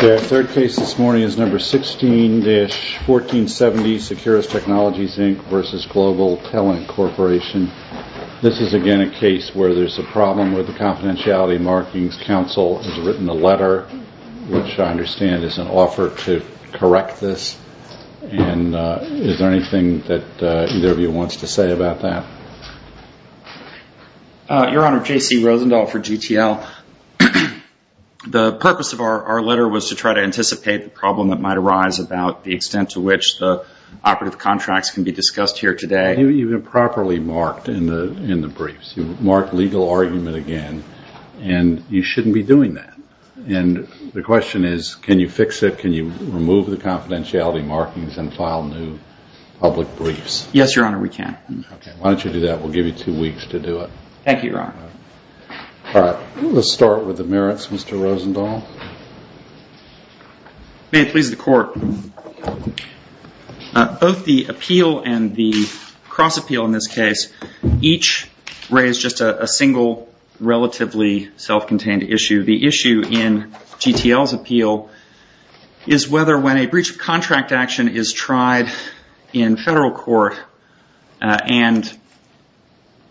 The third case this morning is number 16-1470 Securus Technologies Inc. vs. Global Talent Corporation. This is again a case where there's a problem with the confidentiality markings. Counsel has written a letter, which I understand is an offer to correct this. And is there anything that either of you wants to say about that? Your Honor, J.C. Rosendahl for GTL. The purpose of our letter was to try to anticipate the problem that might arise about the extent to which the operative contracts can be discussed here today. You've improperly marked in the briefs. You've marked legal argument again, and you shouldn't be doing that. And the question is, can you fix it? Can you remove the confidentiality markings and file new public briefs? Yes, Your Honor, we can. Why don't you do that? We'll give you two weeks to do it. Thank you, Your Honor. All right. Let's start with the merits, Mr. Rosendahl. May it please the Court. Both the appeal and the cross-appeal in this case each raise just a single relatively self-contained issue. The issue in GTL's appeal is whether when a breach of contract action is tried in federal court and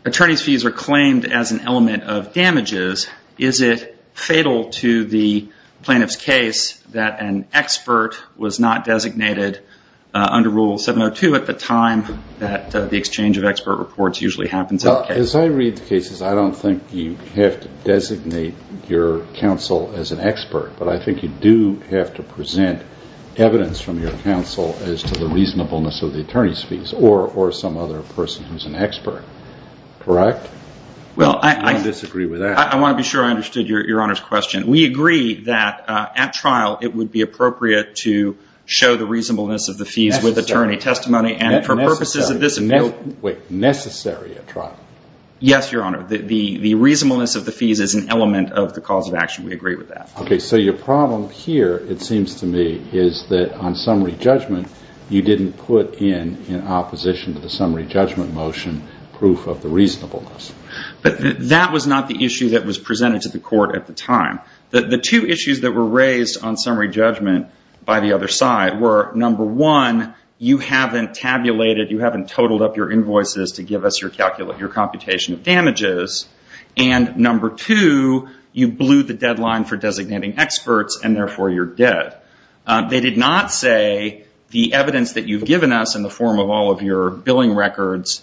attorney's fees are claimed as an element of damages, is it fatal to the plaintiff's case that an expert was not designated under Rule 702 at the time that the exchange of expert reports usually happens in the case? As I read the cases, I don't think you have to designate your counsel as an expert, but I think you do have to present evidence from your counsel as to the reasonableness of the attorney's fees or some other person who's an expert. Correct? Well, I disagree with that. I want to be sure I understood Your Honor's question. We agree that at trial, it would be appropriate to show the reasonableness of the fees with attorney testimony and for purposes of this appeal. Wait, necessary at trial? Yes, Your Honor. The reasonableness of the fees is an element of the cause of action. We agree with that. Okay. So your problem here, it seems to me, is that on summary judgment, you didn't put in, in opposition to the summary judgment motion, proof of the reasonableness. But that was not the issue that was presented to the court at the time. The two issues that were raised on summary judgment by the other side were, number one, you haven't tabulated, you haven't totaled up your invoices to give us your computation of damages, and number two, you blew the deadline for designating experts, and therefore you're dead. They did not say the evidence that you've given us in the form of all of your billing records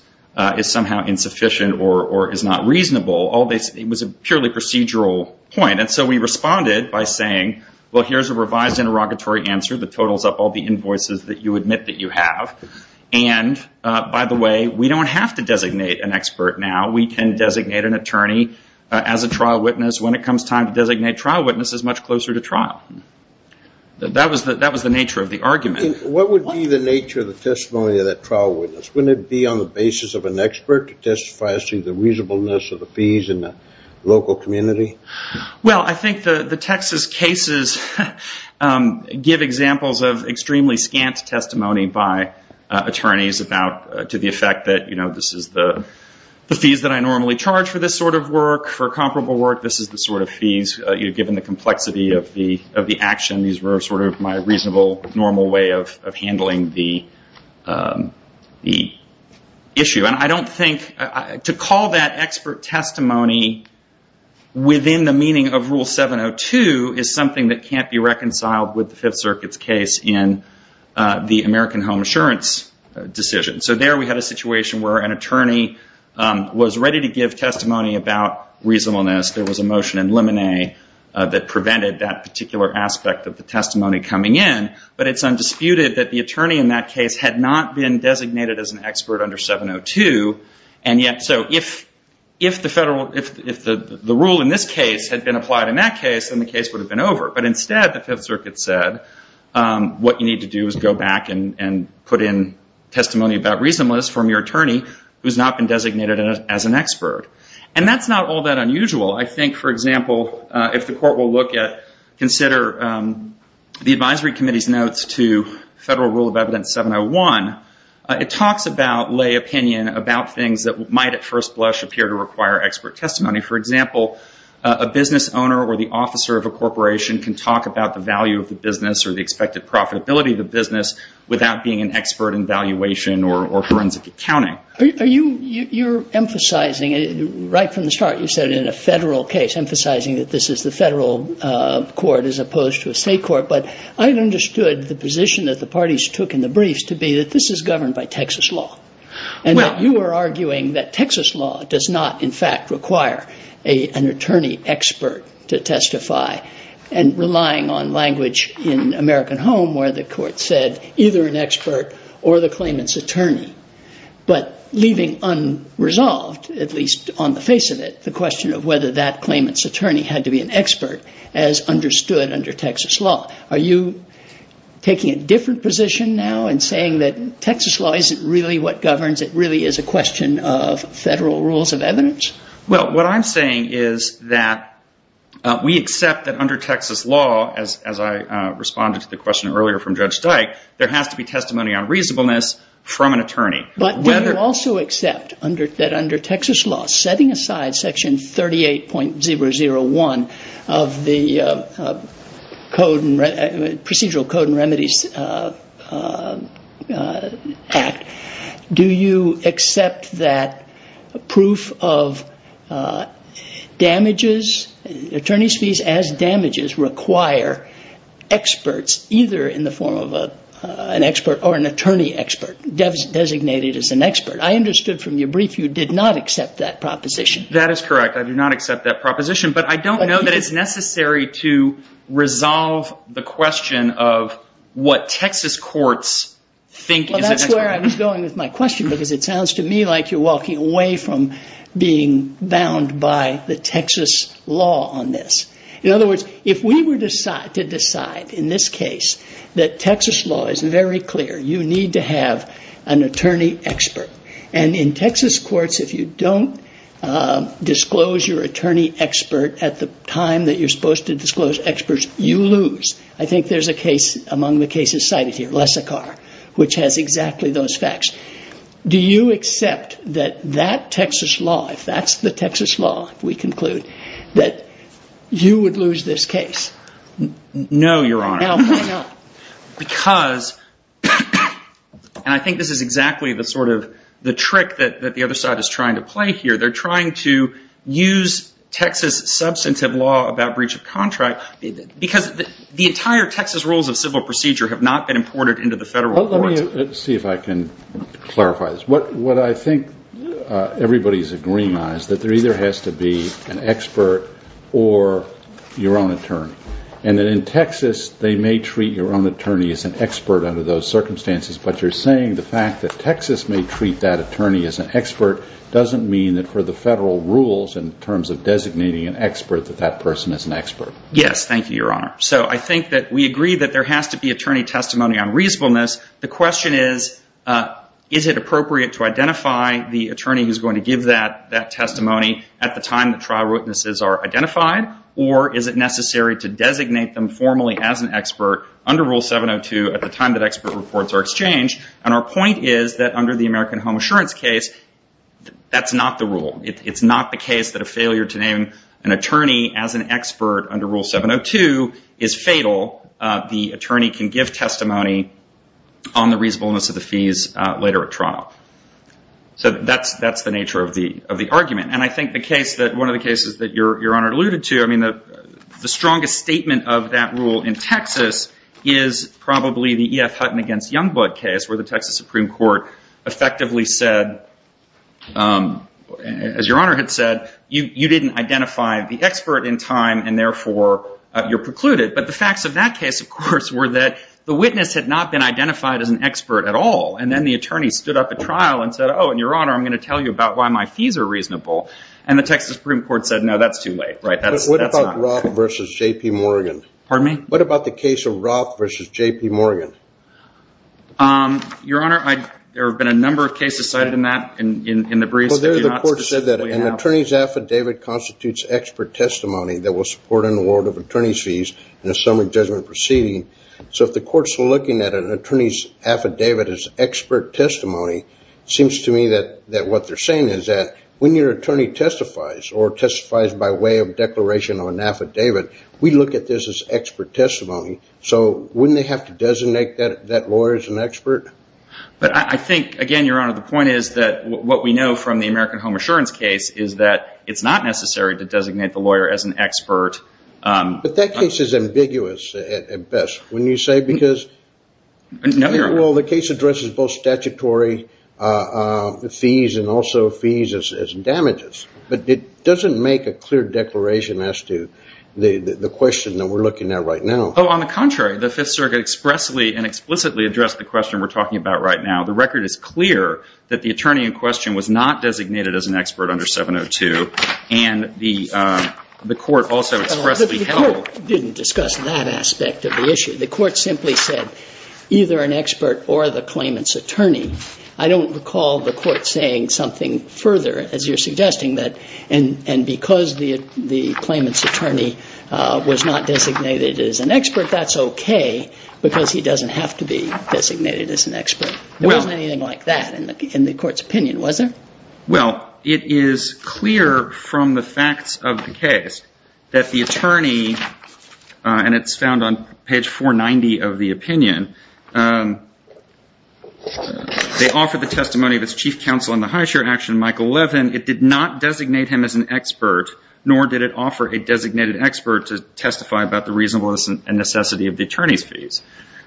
is somehow insufficient or is not reasonable. It was a purely procedural point. And so we responded by saying, well, here's a revised interrogatory answer that totals up all the invoices that you admit that you have. And by the way, we don't have to designate an expert now. We can designate an attorney as a trial witness when it comes time to designate trial witnesses much closer to trial. That was the nature of the argument. And what would be the nature of the testimony of that trial witness? Wouldn't it be on the basis of an expert to testify as to the reasonableness of the fees in the local community? Well, I think the Texas cases give examples of extremely scant testimony by attorneys about, to the effect that, you know, this is the fees that I normally charge for this sort of work, for comparable work. This is the sort of fees, given the complexity of the action. These were sort of my reasonable, normal way of handling the issue. And I don't think to call that expert testimony within the meaning of Rule 702 is something that can't be reconciled with the Fifth Circuit's case in the American Home Assurance decision. So there we had a situation where an attorney was ready to give testimony about reasonableness. There was a motion in Lemonnet that prevented that particular aspect of the testimony coming in. But it's undisputed that the attorney in that case had not been designated as an expert under 702. And yet, so if the federal, if the rule in this case had been applied in that case, then the case would have been over. But instead, the Fifth Circuit said, what you need to do is go back and put in testimony about reasonableness from your attorney who's not been designated as an expert. And that's not all that unusual. I think, for example, if the court will look at, consider the Advisory Committee's notes to Federal Rule of Evidence 701, it talks about lay opinion about things that might at first blush appear to require expert testimony. For example, a business owner or the officer of a corporation can talk about the value of the business or the expected profitability of the business without being an expert in valuation or forensic accounting. Are you, you're emphasizing it right from the start. You said in a federal case, emphasizing that this is the federal court as opposed to a state court. But I understood the position that the parties took in the briefs to be that this is governed by Texas law. And you are arguing that Texas law does not, in fact, require an attorney expert to testify and relying on language in American home where the court said either an expert or the claimant's attorney. But leaving unresolved, at least on the face of it, the question of whether that claimant's attorney had to be an expert as understood under Texas law. Are you taking a different position now and saying that Texas law isn't really what governs? It really is a question of federal rules of evidence? Well, what I'm saying is that we accept that under Texas law, as I responded to the question earlier from Judge Dyke, there has to be testimony on reasonableness from an attorney. But do you also accept that under Texas law, setting aside Section 38.001 of the Procedural Code and Remedies Act, do you accept that a proof of damages, attorney's fees as damages, require experts either in the form of an expert or an attorney expert designated as an expert? I understood from your brief you did not accept that proposition. That is correct. I do not accept that proposition. But I don't know that it's necessary to resolve the question of what Texas courts think. Well, that's where I was going with my question, because it sounds to me like you're walking away from being bound by the Texas law on this. In other words, if we were to decide in this case that Texas law is very clear, you need to have an attorney expert. And in Texas courts, if you don't disclose your attorney expert at the time that you're supposed to disclose experts, you lose. I think there's a case among the cases cited here, Lessicar, which has exactly those facts. Do you accept that that Texas law, if that's the Texas law we conclude, that you would lose this case? No, Your Honor, because I think this is exactly the sort of the trick that the other side is trying to play here. They're trying to use Texas substantive law about breach of contract because the entire Texas rules of civil procedure have not been imported into the federal courts. Let me see if I can clarify this. What I think everybody's agreeing on is that there either has to be an expert or your own attorney. And in Texas, they may treat your own attorney as an expert under those circumstances. But you're saying the fact that Texas may treat that attorney as an expert doesn't mean that for the federal rules in terms of designating an expert that that person is an expert. Yes. Thank you, Your Honor. So I think that we agree that there has to be attorney testimony on reasonableness. The question is, is it appropriate to identify the attorney who's going to give that that testimony at the time the trial witnesses are identified? Or is it necessary to designate them formally as an expert under Rule 702 at the time that expert reports are exchanged? And our point is that under the American Home Assurance case, that's not the rule. It's not the case that a failure to name an attorney as an expert under Rule 702 is fatal. The attorney can give testimony on the reasonableness of the fees later at trial. So that's the nature of the argument. And I think the case that one of the cases that Your Honor alluded to, I mean, the strongest statement of that rule in Texas is probably the E.F. Hutton against Youngblood case where the Texas Supreme Court effectively said, as Your Honor had said, you didn't identify the expert in time and therefore you're precluded. But the facts of that case, of course, were that the witness had not been identified as an expert at all. And then the attorney stood up at trial and said, oh, and Your Honor, I'm going to tell you about why my fees are reasonable. And the Texas Supreme Court said, no, that's too late. Right. That's what about Roth versus J.P. Morgan? Pardon me? What about the case of Roth versus J.P. Morgan? Your Honor, there have been a number of cases cited in that in the briefs. Well, there's a court said that an attorney's affidavit constitutes expert testimony that will support an award of attorney's fees in a summary judgment proceeding. So if the court's looking at an attorney's affidavit as expert testimony, it seems to me that what they're saying is that when your attorney testifies or testifies by way of declaration on an affidavit, we look at this as expert testimony. So wouldn't they have to designate that lawyer as an expert? But I think, again, Your Honor, the point is that what we know from the American Home Assurance case is that it's not necessary to designate the lawyer as an expert. But that case is ambiguous at best, wouldn't you say? Because the case addresses both statutory fees and also fees as damages, but it doesn't make a clear declaration as to the question that we're looking at right now. Oh, on the contrary, the Fifth Circuit expressly and explicitly addressed the question we're talking about right now. The record is clear that the attorney in question was not designated as an expert under 702, and the court also expressly held. But the court didn't discuss that aspect of the issue. The court simply said either an expert or the claimant's attorney. I don't recall the court saying something further, as you're suggesting, that and because the claimant's attorney was not designated as an expert, that's OK, because he doesn't have to be designated as an expert. There wasn't anything like that in the court's opinion, was there? Well, it is clear from the facts of the case that the attorney, and it's found on page 490 of the opinion, they offered the testimony of its chief counsel in the high chair action, Michael Levin. It did not designate him as an expert, nor did it offer a designated expert to testify about the reasonableness and necessity of the attorney's fees.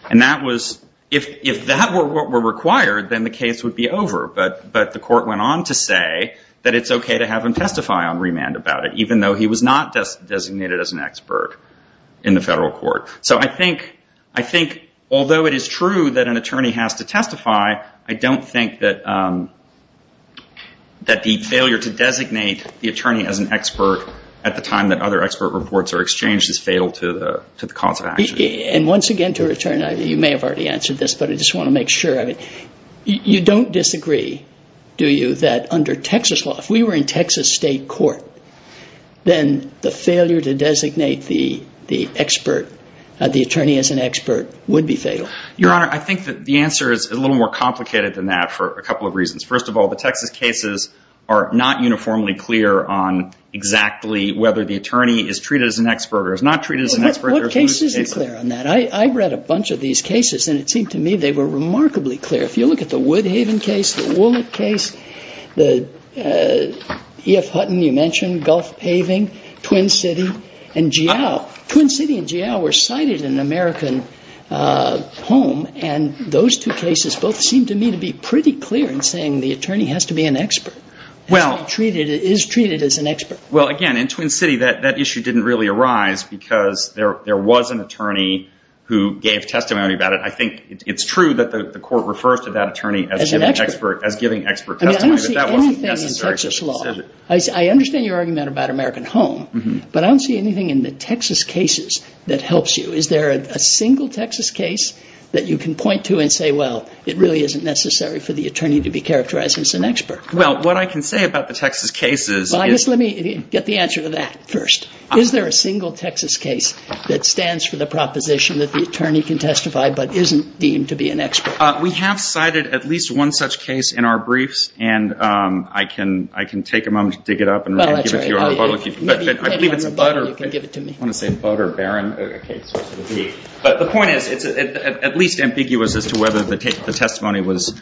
And that was, if that were what were required, then the case would be over. But the court went on to say that it's OK to have him testify on remand about it, even though he was not designated as an expert in the federal court. So I think although it is true that an attorney has to testify, I don't think that the failure to designate the attorney as an expert at the time that other expert reports are exchanged is fatal to the cause of action. And once again, to return, you may have already answered this, but I just want to make sure of it. You don't disagree, do you, that under Texas law, if we were in Texas state court, then the failure to designate the expert, the attorney as an expert, would be fatal? Your Honor, I think that the answer is a little more complicated than that for a couple of reasons. First of all, the Texas cases are not uniformly clear on exactly whether the attorney is treated as an expert or is not treated as an expert. What case isn't clear on that? I read a bunch of these cases, and it seemed to me they were remarkably clear. If you look at the Woodhaven case, the Wollett case, the E.F. Hutton you mentioned, Gulf Paving, Twin City, and Geale, Twin City and Geale were cited in American Home, and those two cases both seem to me to be pretty clear in saying the attorney has to be an expert, is treated as an expert. Well, again, in Twin City, that issue didn't really arise because there was an attorney who gave testimony about it. I think it's true that the court refers to that attorney as giving expert testimony, but that wasn't necessary to be considered. I understand your argument about American Home, but I don't see anything in the Texas cases that helps you. Is there a single Texas case that you can point to and say, well, it really isn't necessary for the attorney to be characterized as an expert? Well, what I can say about the Texas cases is... Let me get the answer to that first. Is there a single Texas case that stands for the proposition that the attorney can testify, but isn't deemed to be an expert? We have cited at least one such case in our briefs, and I can take a moment to dig it up and give it to you on the phone. I believe it's a Butter Baron case. But the point is, it's at least ambiguous as to whether the testimony was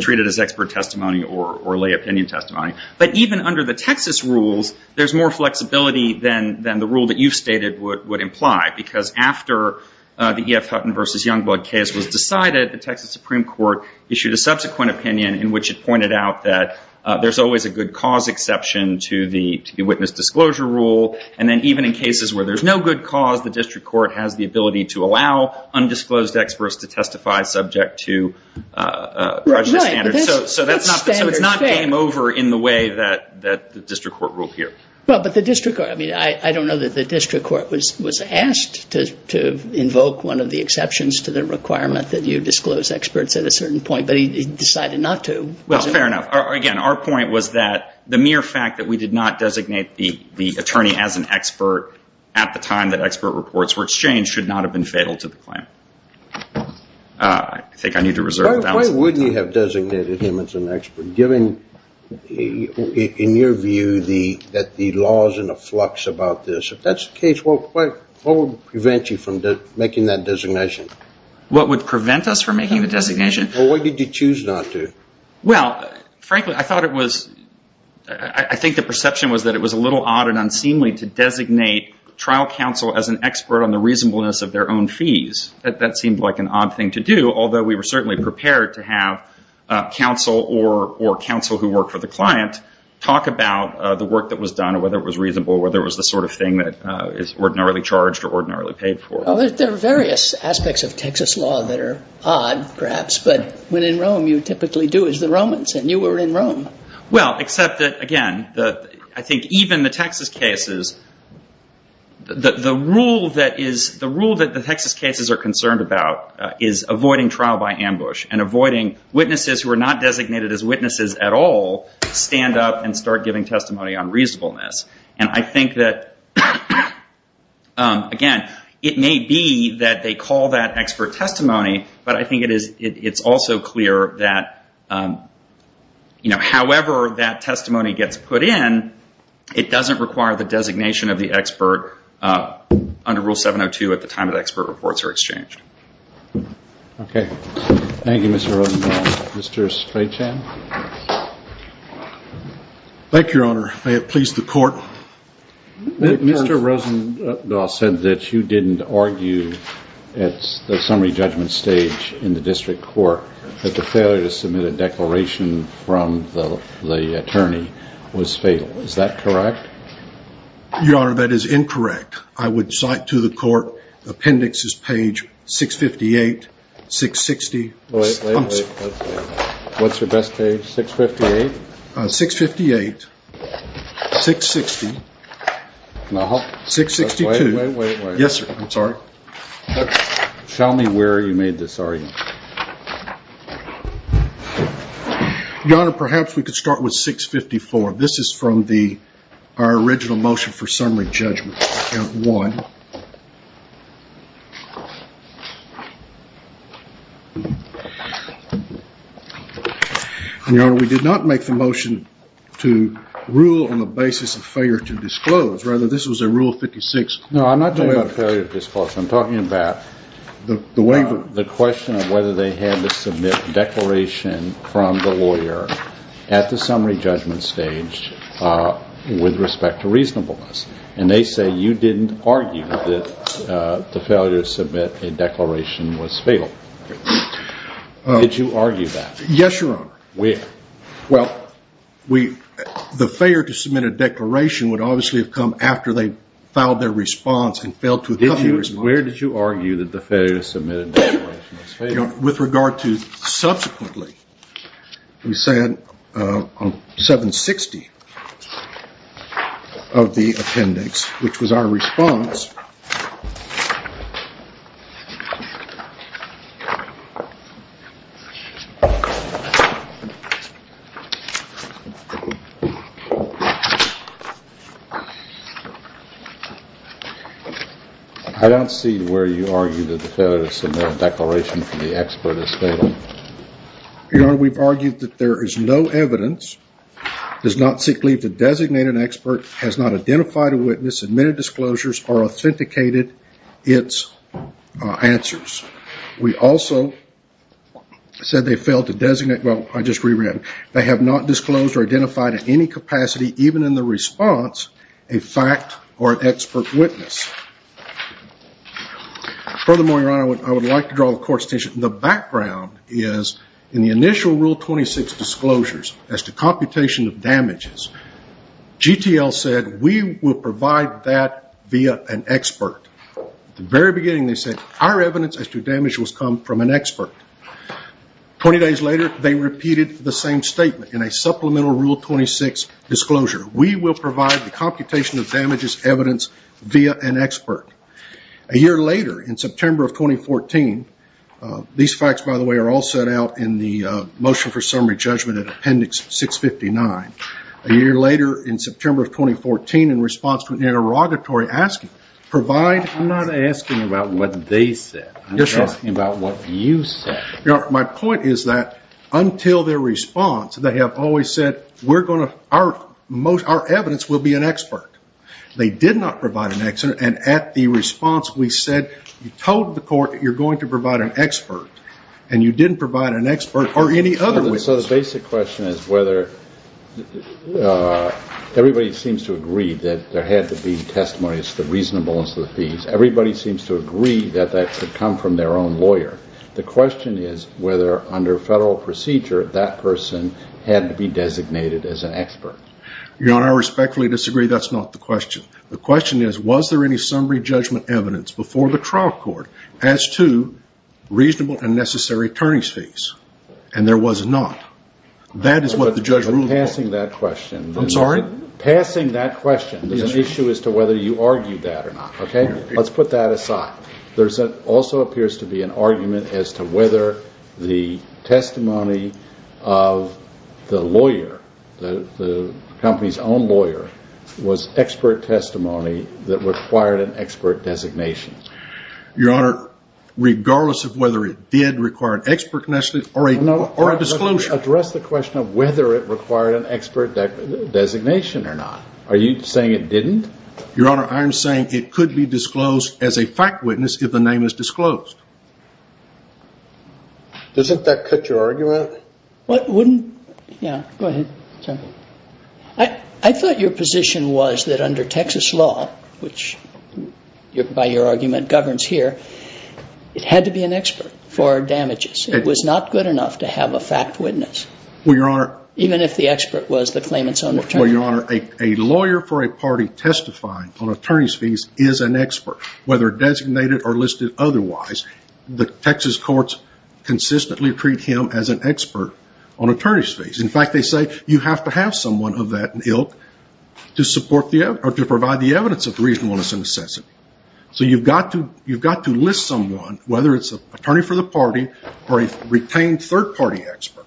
treated as expert testimony or lay opinion testimony. But even under the Texas rules, there's more flexibility than the rule that you've stated would imply. Because after the E.F. Hutton v. Youngblood case was decided, the Texas Supreme Court issued a subsequent opinion in which it pointed out that there's always a good cause exception to the witness disclosure rule. And then even in cases where there's no good cause, the district court has the ability to allow undisclosed experts to testify subject to prejudice standards. So it's not game over in the way that the district court ruled here. Well, but the district court... I mean, I don't know that the district court was asked to invoke one of the exceptions to the requirement that you disclose experts at a certain point. But he decided not to. Well, fair enough. Again, our point was that the mere fact that we did not designate the attorney as an expert at the time that expert reports were exchanged should not have been fatal to the claim. I think I need to reserve the balance of my time. Why wouldn't you have designated him as an expert, given, in your view, that the law is in a flux about this? If that's the case, what would prevent you from making that designation? What would prevent us from making the designation? Well, why did you choose not to? Well, frankly, I thought it was – I think the perception was that it was a little odd and unseemly to designate trial counsel as an expert on the reasonableness of their own fees. That seemed like an odd thing to do, although we were certainly prepared to have counsel or counsel who worked for the client talk about the work that was done, whether it was reasonable, whether it was the sort of thing that is ordinarily charged or ordinarily paid for. Well, there are various aspects of Texas law that are odd, perhaps. But when in Rome, you typically do as the Romans, and you were in Rome. Well, except that, again, I think even the Texas cases – the rule that the Texas cases are concerned about is avoiding trial by ambush and avoiding witnesses who are not designated as witnesses at all stand up and start giving testimony on reasonableness. And I think that, again, it may be that they call that expert testimony, but I think it is – it's also clear that, you know, however that testimony gets put in, it doesn't require the designation of the expert under Rule 702 at the time that expert reports are exchanged. Okay. Thank you, Mr. Rosenbaum. Mr. Strachan? Thank you, Your Honor. May it please the Court. Mr. Rosenbaum said that you didn't argue at the summary judgment stage in the district court that the failure to submit a declaration from the attorney was fatal. Is that correct? Your Honor, that is incorrect. I would cite to the Court Appendixes page 658, 660. Wait, wait, wait. What's your best page? 658? 658, 660. No. 662. Wait, wait, wait. Yes, sir. I'm sorry. Tell me where you made this argument. Your Honor, perhaps we could start with 654. This is from the – our original motion for summary judgment, Account 1. Your Honor, we did not make the motion to rule on the basis of failure to disclose. Rather, this was a Rule 56. No, I'm not talking about failure to disclose. I'm talking about the waiver. I'm talking about whether they had to submit a declaration from the lawyer at the summary judgment stage with respect to reasonableness. And they say you didn't argue that the failure to submit a declaration was fatal. Did you argue that? Yes, Your Honor. Where? Well, we – the failure to submit a declaration would obviously have come after they filed their response and failed to – Where did you argue that the failure to submit a declaration was fatal? Your Honor, with regard to subsequently, we said on 760 of the appendix, which was our response – I don't see where you argued that the failure to submit a declaration from the expert is fatal. Your Honor, we've argued that there is no evidence, does not seek leave to designate an expert, has not identified a witness, admitted disclosures, or authenticated its answers. We also said they failed to designate – well, I just re-read. They have not disclosed or identified in any capacity, even in the response, a fact or an expert witness. Furthermore, Your Honor, I would like to draw the Court's attention – the background is in the initial Rule 26 disclosures as to computation of damages, GTL said we will provide that via an expert. At the very beginning, they said our evidence as to damage was come from an expert. Twenty days later, they repeated the same statement in a supplemental Rule 26 disclosure. We will provide the computation of damages evidence via an expert. A year later, in September of 2014 – these facts, by the way, are all set out in the motion for summary judgment in Appendix 659. A year later, in September of 2014, in response to an interrogatory asking, provide – I'm not asking about what they said. I'm asking about what you said. Your Honor, my point is that until their response, they have always said, we're going to – our evidence will be an expert. They did not provide an expert, and at the response, we said, you told the Court that you're going to provide an expert, and you didn't provide an expert or any other witness. So the basic question is whether – everybody seems to agree that there had to be testimonies, the reasonableness of the fees. Everybody seems to agree that that should come from their own lawyer. The question is whether, under federal procedure, that person had to be designated as an expert. Your Honor, I respectfully disagree. That's not the question. The question is, was there any summary judgment evidence before the trial court as to reasonable and necessary attorney's fees? And there was not. That is what the judge ruled on. But passing that question – I'm sorry? Passing that question is an issue as to whether you argued that or not, okay? Let's put that aside. There also appears to be an argument as to whether the testimony of the lawyer, the company's own lawyer, was expert testimony that required an expert designation. Your Honor, regardless of whether it did require an expert designation or a disclosure – No, address the question of whether it required an expert designation or not. Are you saying it didn't? Your Honor, I am saying it could be disclosed as a fact witness if the name is disclosed. Doesn't that cut your argument? What wouldn't – yeah, go ahead. I thought your position was that under Texas law, which by your argument governs here, it had to be an expert for damages. It was not good enough to have a fact witness. Well, Your Honor – Even if the expert was the claimant's own attorney. Well, Your Honor, a lawyer for a party testifying on attorney's fees is an expert. Whether designated or listed otherwise, the Texas courts consistently treat him as an expert on attorney's fees. In fact, they say you have to have someone of that ilk to provide the evidence of the reasonableness and necessity. So you've got to list someone, whether it's an attorney for the party or a retained third-party expert.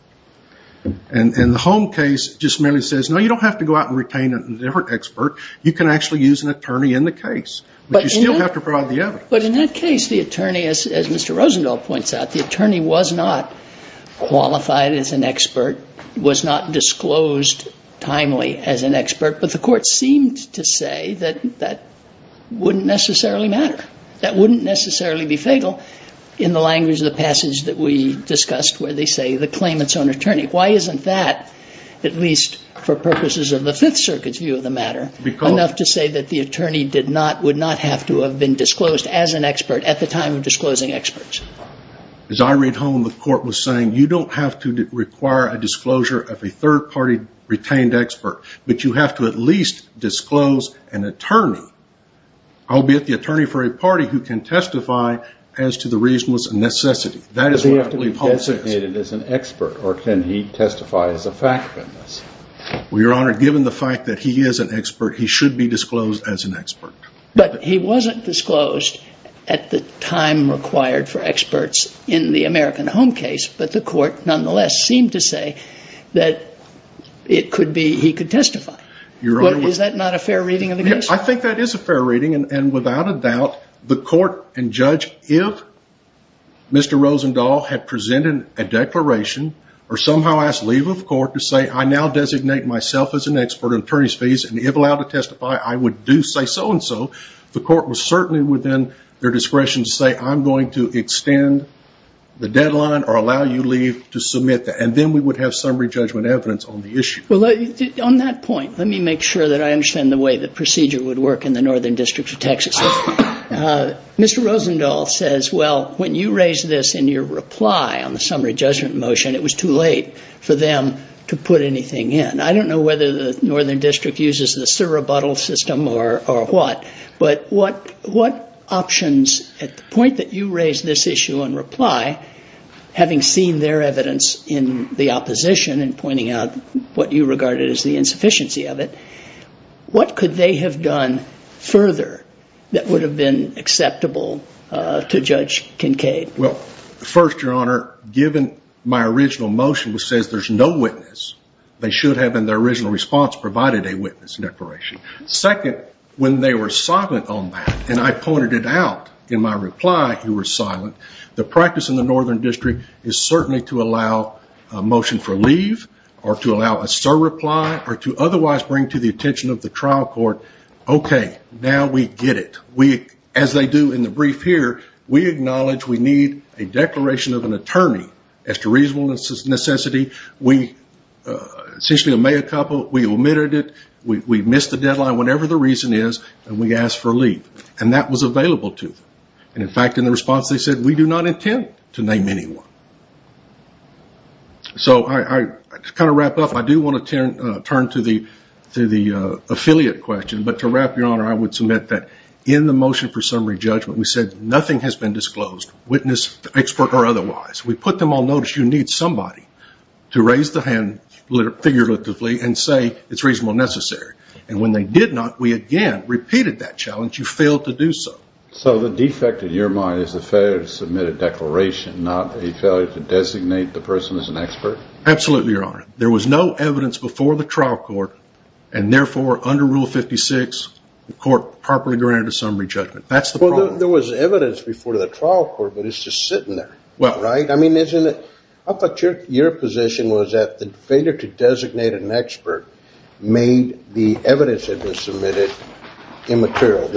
And the Home case just merely says, no, you don't have to go out and retain a different expert. You can actually use an attorney in the case, but you still have to provide the evidence. But in that case, the attorney, as Mr. Rosenthal points out, the attorney was not qualified as an expert, was not disclosed timely as an expert, but the court seemed to say that that wouldn't necessarily matter. That wouldn't necessarily be fatal in the language of the passage that we discussed where they say the claimant's own attorney. Why isn't that, at least for purposes of the Fifth Circuit's view of the matter, enough to say that the attorney would not have to have been disclosed as an expert at the time of disclosing experts? As I read home, the court was saying you don't have to require a disclosure of a third-party retained expert, but you have to at least disclose an attorney, albeit the attorney for a party, who can testify as to the reasonableness and necessity. Does he have to be designated as an expert, or can he testify as a fact witness? Well, Your Honor, given the fact that he is an expert, he should be disclosed as an expert. But he wasn't disclosed at the time required for experts in the American Home case, but the court nonetheless seemed to say that he could testify. Is that not a fair reading of the case? I think that is a fair reading, and without a doubt, the court and judge, if Mr. Rosendahl had presented a declaration or somehow asked leave of court to say, I now designate myself as an expert on attorney's fees, and if allowed to testify, I would do so and so, the court was certainly within their discretion to say, I'm going to extend the deadline or allow you leave to submit that. And then we would have summary judgment evidence on the issue. Well, on that point, let me make sure that I understand the way the procedure would work in the Northern District of Texas. Mr. Rosendahl says, well, when you raised this in your reply on the summary judgment motion, it was too late for them to put anything in. I don't know whether the Northern District uses the surrebuttal system or what, but what options, at the point that you raised this issue in reply, having seen their evidence in the opposition and pointing out what you regarded as the insufficiency of it, what could they have done further that would have been acceptable to Judge Kincaid? Well, first, Your Honor, given my original motion which says there's no witness, they should have in their original response provided a witness declaration. Second, when they were silent on that, and I pointed it out in my reply, you were silent, the practice in the Northern District is certainly to allow a motion for leave or to allow a surreply or to otherwise bring to the attention of the trial court, okay, now we get it. As they do in the brief here, we acknowledge we need a declaration of an attorney as to reasonable necessity. We essentially made a couple, we omitted it, we missed the deadline, whatever the reason is, and we asked for leave. And that was available to them. In fact, in the response they said, we do not intend to name anyone. So to kind of wrap up, I do want to turn to the affiliate question, but to wrap, Your Honor, I would submit that in the motion for summary judgment we said nothing has been disclosed, witness, expert, or otherwise. We put them on notice you need somebody to raise the hand figuratively and say it's reasonable and necessary. And when they did not, we again repeated that challenge, you failed to do so. So the defect in your mind is the failure to submit a declaration, not a failure to designate the person as an expert? Absolutely, Your Honor. There was no evidence before the trial court, and therefore, under Rule 56, the court properly granted a summary judgment. That's the problem. Well, there was evidence before the trial court, but it's just sitting there, right? I mean, isn't it? I thought your position was that the failure to designate an expert made the evidence that was submitted immaterial.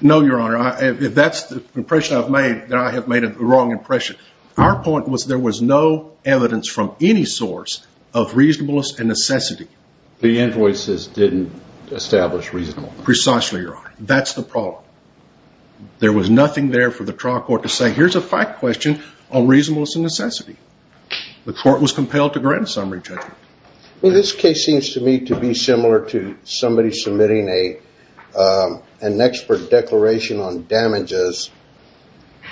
No, Your Honor. If that's the impression I've made, then I have made a wrong impression. Our point was there was no evidence from any source of reasonableness and necessity. The invoices didn't establish reasonableness. Precisely, Your Honor. That's the problem. There was nothing there for the trial court to say, here's a fact question on reasonableness and necessity. The court was compelled to grant a summary judgment. This case seems to me to be similar to somebody submitting an expert declaration on damages,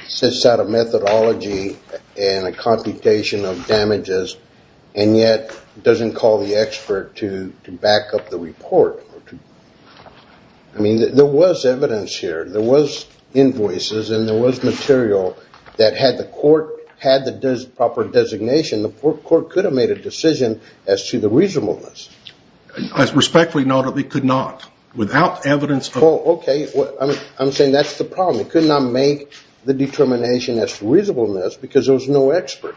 sets out a methodology and a computation of damages, and yet doesn't call the expert to back up the report. I mean, there was evidence here. There was invoices, and there was material that had the court had the proper designation, the court could have made a decision as to the reasonableness. Respectfully noted, it could not. Without evidence of the court. Okay. I'm saying that's the problem. It could not make the determination as to reasonableness because there was no expert.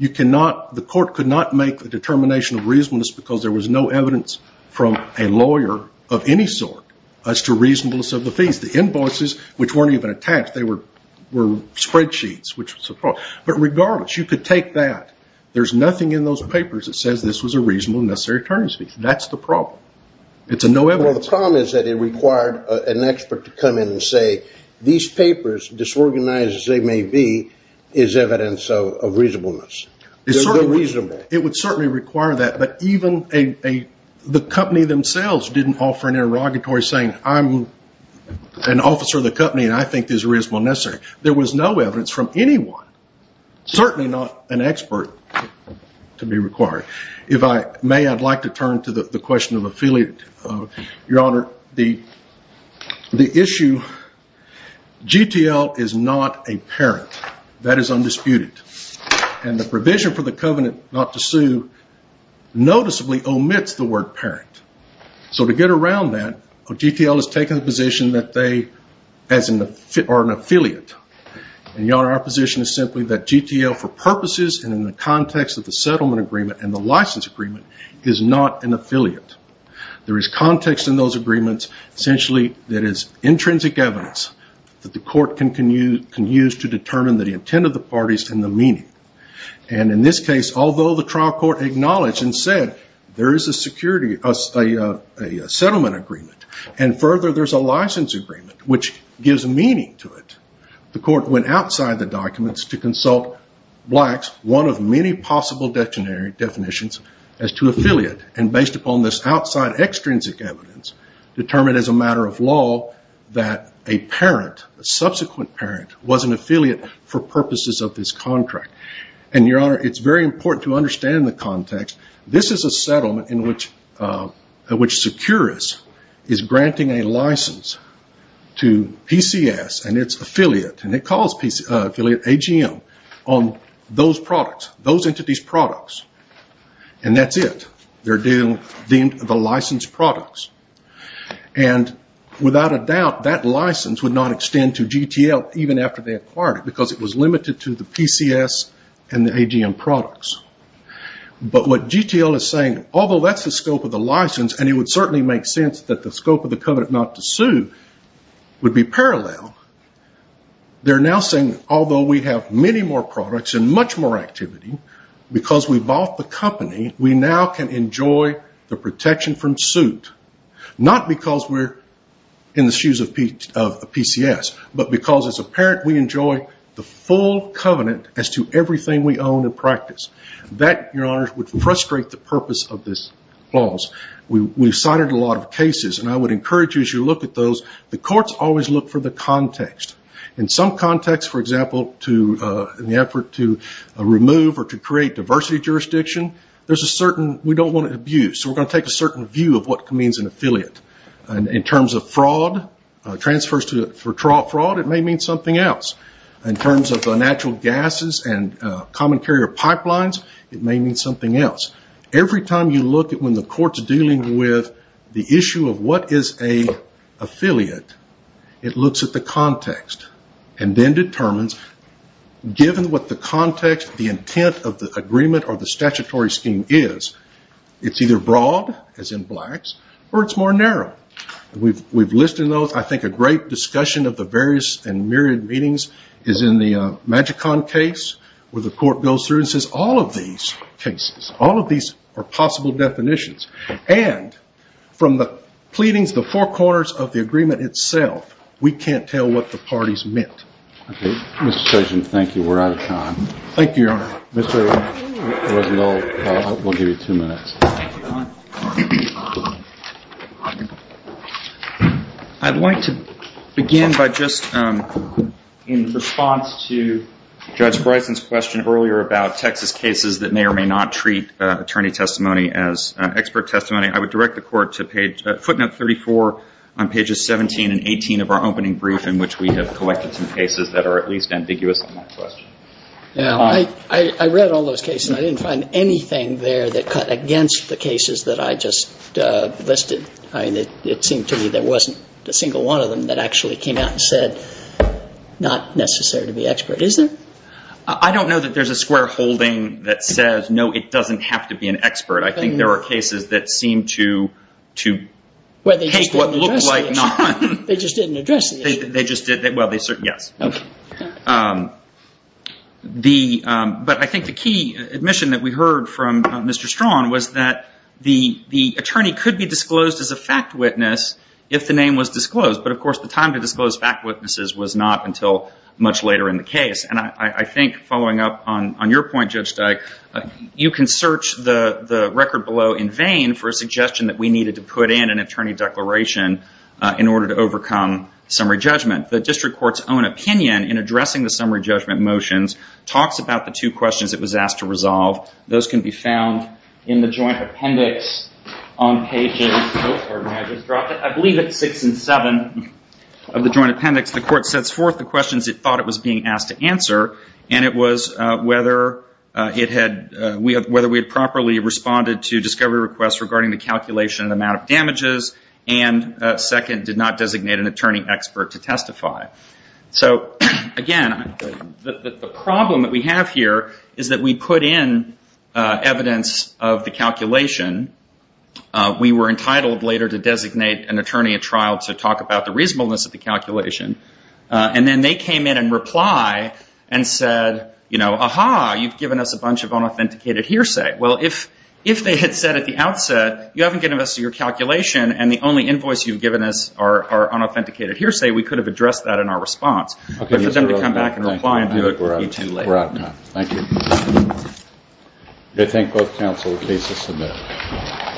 The court could not make the determination of reasonableness because there was no evidence from a lawyer of any sort as to reasonableness of the fees. The invoices, which weren't even attached, they were spreadsheets. But regardless, you could take that. There's nothing in those papers that says this was a reasonable and necessary terms fee. That's the problem. The problem is that it required an expert to come in and say, these papers, disorganized as they may be, is evidence of reasonableness. It would certainly require that, but even the company themselves didn't offer an interrogatory saying, I'm an officer of the company and I think this is reasonable and necessary. There was no evidence from anyone. Certainly not an expert to be required. If I may, I'd like to turn to the question of affiliate. Your Honor, the issue, GTL is not a parent. That is undisputed. And the provision for the covenant not to sue noticeably omits the word parent. To get around that, GTL has taken the position that they are an affiliate. Your Honor, our position is simply that GTL, for purposes and in the context of the settlement agreement and the license agreement, is not an affiliate. There is context in those agreements. Essentially, that is intrinsic evidence that the court can use to determine the intent of the parties and the meaning. In this case, although the trial court acknowledged and said there is a settlement agreement and further there's a license agreement, which gives meaning to it, the court went outside the documents to consult Black's, one of many possible definitions, as to affiliate. Based upon this outside extrinsic evidence, determined as a matter of law that a parent, a subsequent parent, was an affiliate for purposes of this contract. Your Honor, it's very important to understand the context. This is a settlement in which Securus is granting a license to PCS and its affiliate, and it calls affiliate AGM, on those products, those entities' products. And that's it. They're deemed the licensed products. And without a doubt, that license would not extend to GTL even after they acquired it, because it was limited to the PCS and the AGM products. But what GTL is saying, although that's the scope of the license, and it would certainly make sense that the scope of the covenant not to sue would be parallel, they're now saying although we have many more products and much more activity, because we bought the company, we now can enjoy the protection from suit. Not because we're in the shoes of PCS, but because as a parent we enjoy the full covenant as to everything we own and practice. That, Your Honor, would frustrate the purpose of this clause. We've cited a lot of cases, and I would encourage you as you look at those, the courts always look for the context. In some context, for example, in the effort to remove or to create diversity jurisdiction, there's a certain, we don't want it abused, so we're going to take a certain view of what means an affiliate. In terms of fraud, transfers for fraud, it may mean something else. In terms of natural gases and common carrier pipelines, it may mean something else. Every time you look at when the court's dealing with the issue of what is an affiliate, it looks at the context, and then determines given what the context, the intent of the agreement, or the statutory scheme is. It's either broad, as in blacks, or it's more narrow. We've listed those. I think a great discussion of the various and myriad meanings is in the Magicon case where the court goes through and says all of these cases, all of these are possible definitions, and from the pleadings, the four corners of the agreement itself, we can't tell what the parties meant. Okay. Mr. Chairman, thank you. We're out of time. Thank you, Your Honor. Mr. Rosenthal, we'll give you two minutes. Thank you, Your Honor. I'd like to begin by just in response to Judge Bryson's question earlier about Texas cases that may or may not treat attorney testimony as expert testimony. I would direct the court to footnote 34 on pages 17 and 18 of our opening brief in which we have collected some cases that are at least ambiguous on that question. I read all those cases. I didn't find anything there that cut against the cases that I just listed. It seemed to me there wasn't a single one of them that actually came out and said not necessary to be expert. Is there? I don't know that there's a square holding that says, no, it doesn't have to be an expert. I think there are cases that seem to take what looks like none. They just didn't address the issue. Yes. But I think the key admission that we heard from Mr. Strachan was that the attorney could be disclosed as a fact witness if the name was disclosed. But, of course, the time to disclose fact witnesses was not until much later in the case. And I think following up on your point, Judge Dyke, you can search the record below in vain for a suggestion that we needed to put in an attorney declaration in order to overcome summary judgment. The district court's own opinion in addressing the summary judgment motions talks about the two questions it was asked to resolve. Those can be found in the joint appendix on pages 6 and 7 of the joint appendix. The court sets forth the questions it thought it was being asked to answer, and it was whether we had properly responded to discovery requests regarding the calculation and amount of damages, and second, did not designate an attorney expert to testify. So, again, the problem that we have here is that we put in evidence of the calculation. We were entitled later to designate an attorney at trial to talk about the reasonableness of the calculation. And then they came in and reply and said, you know, aha, you've given us a bunch of unauthenticated hearsay. Well, if they had said at the outset, you haven't given us your calculation and the only invoice you've given us are unauthenticated hearsay, we could have addressed that in our response. But for them to come back and reply and do it, you're too late. We're out of time. Thank you. I do thank both counsel. The case is submitted.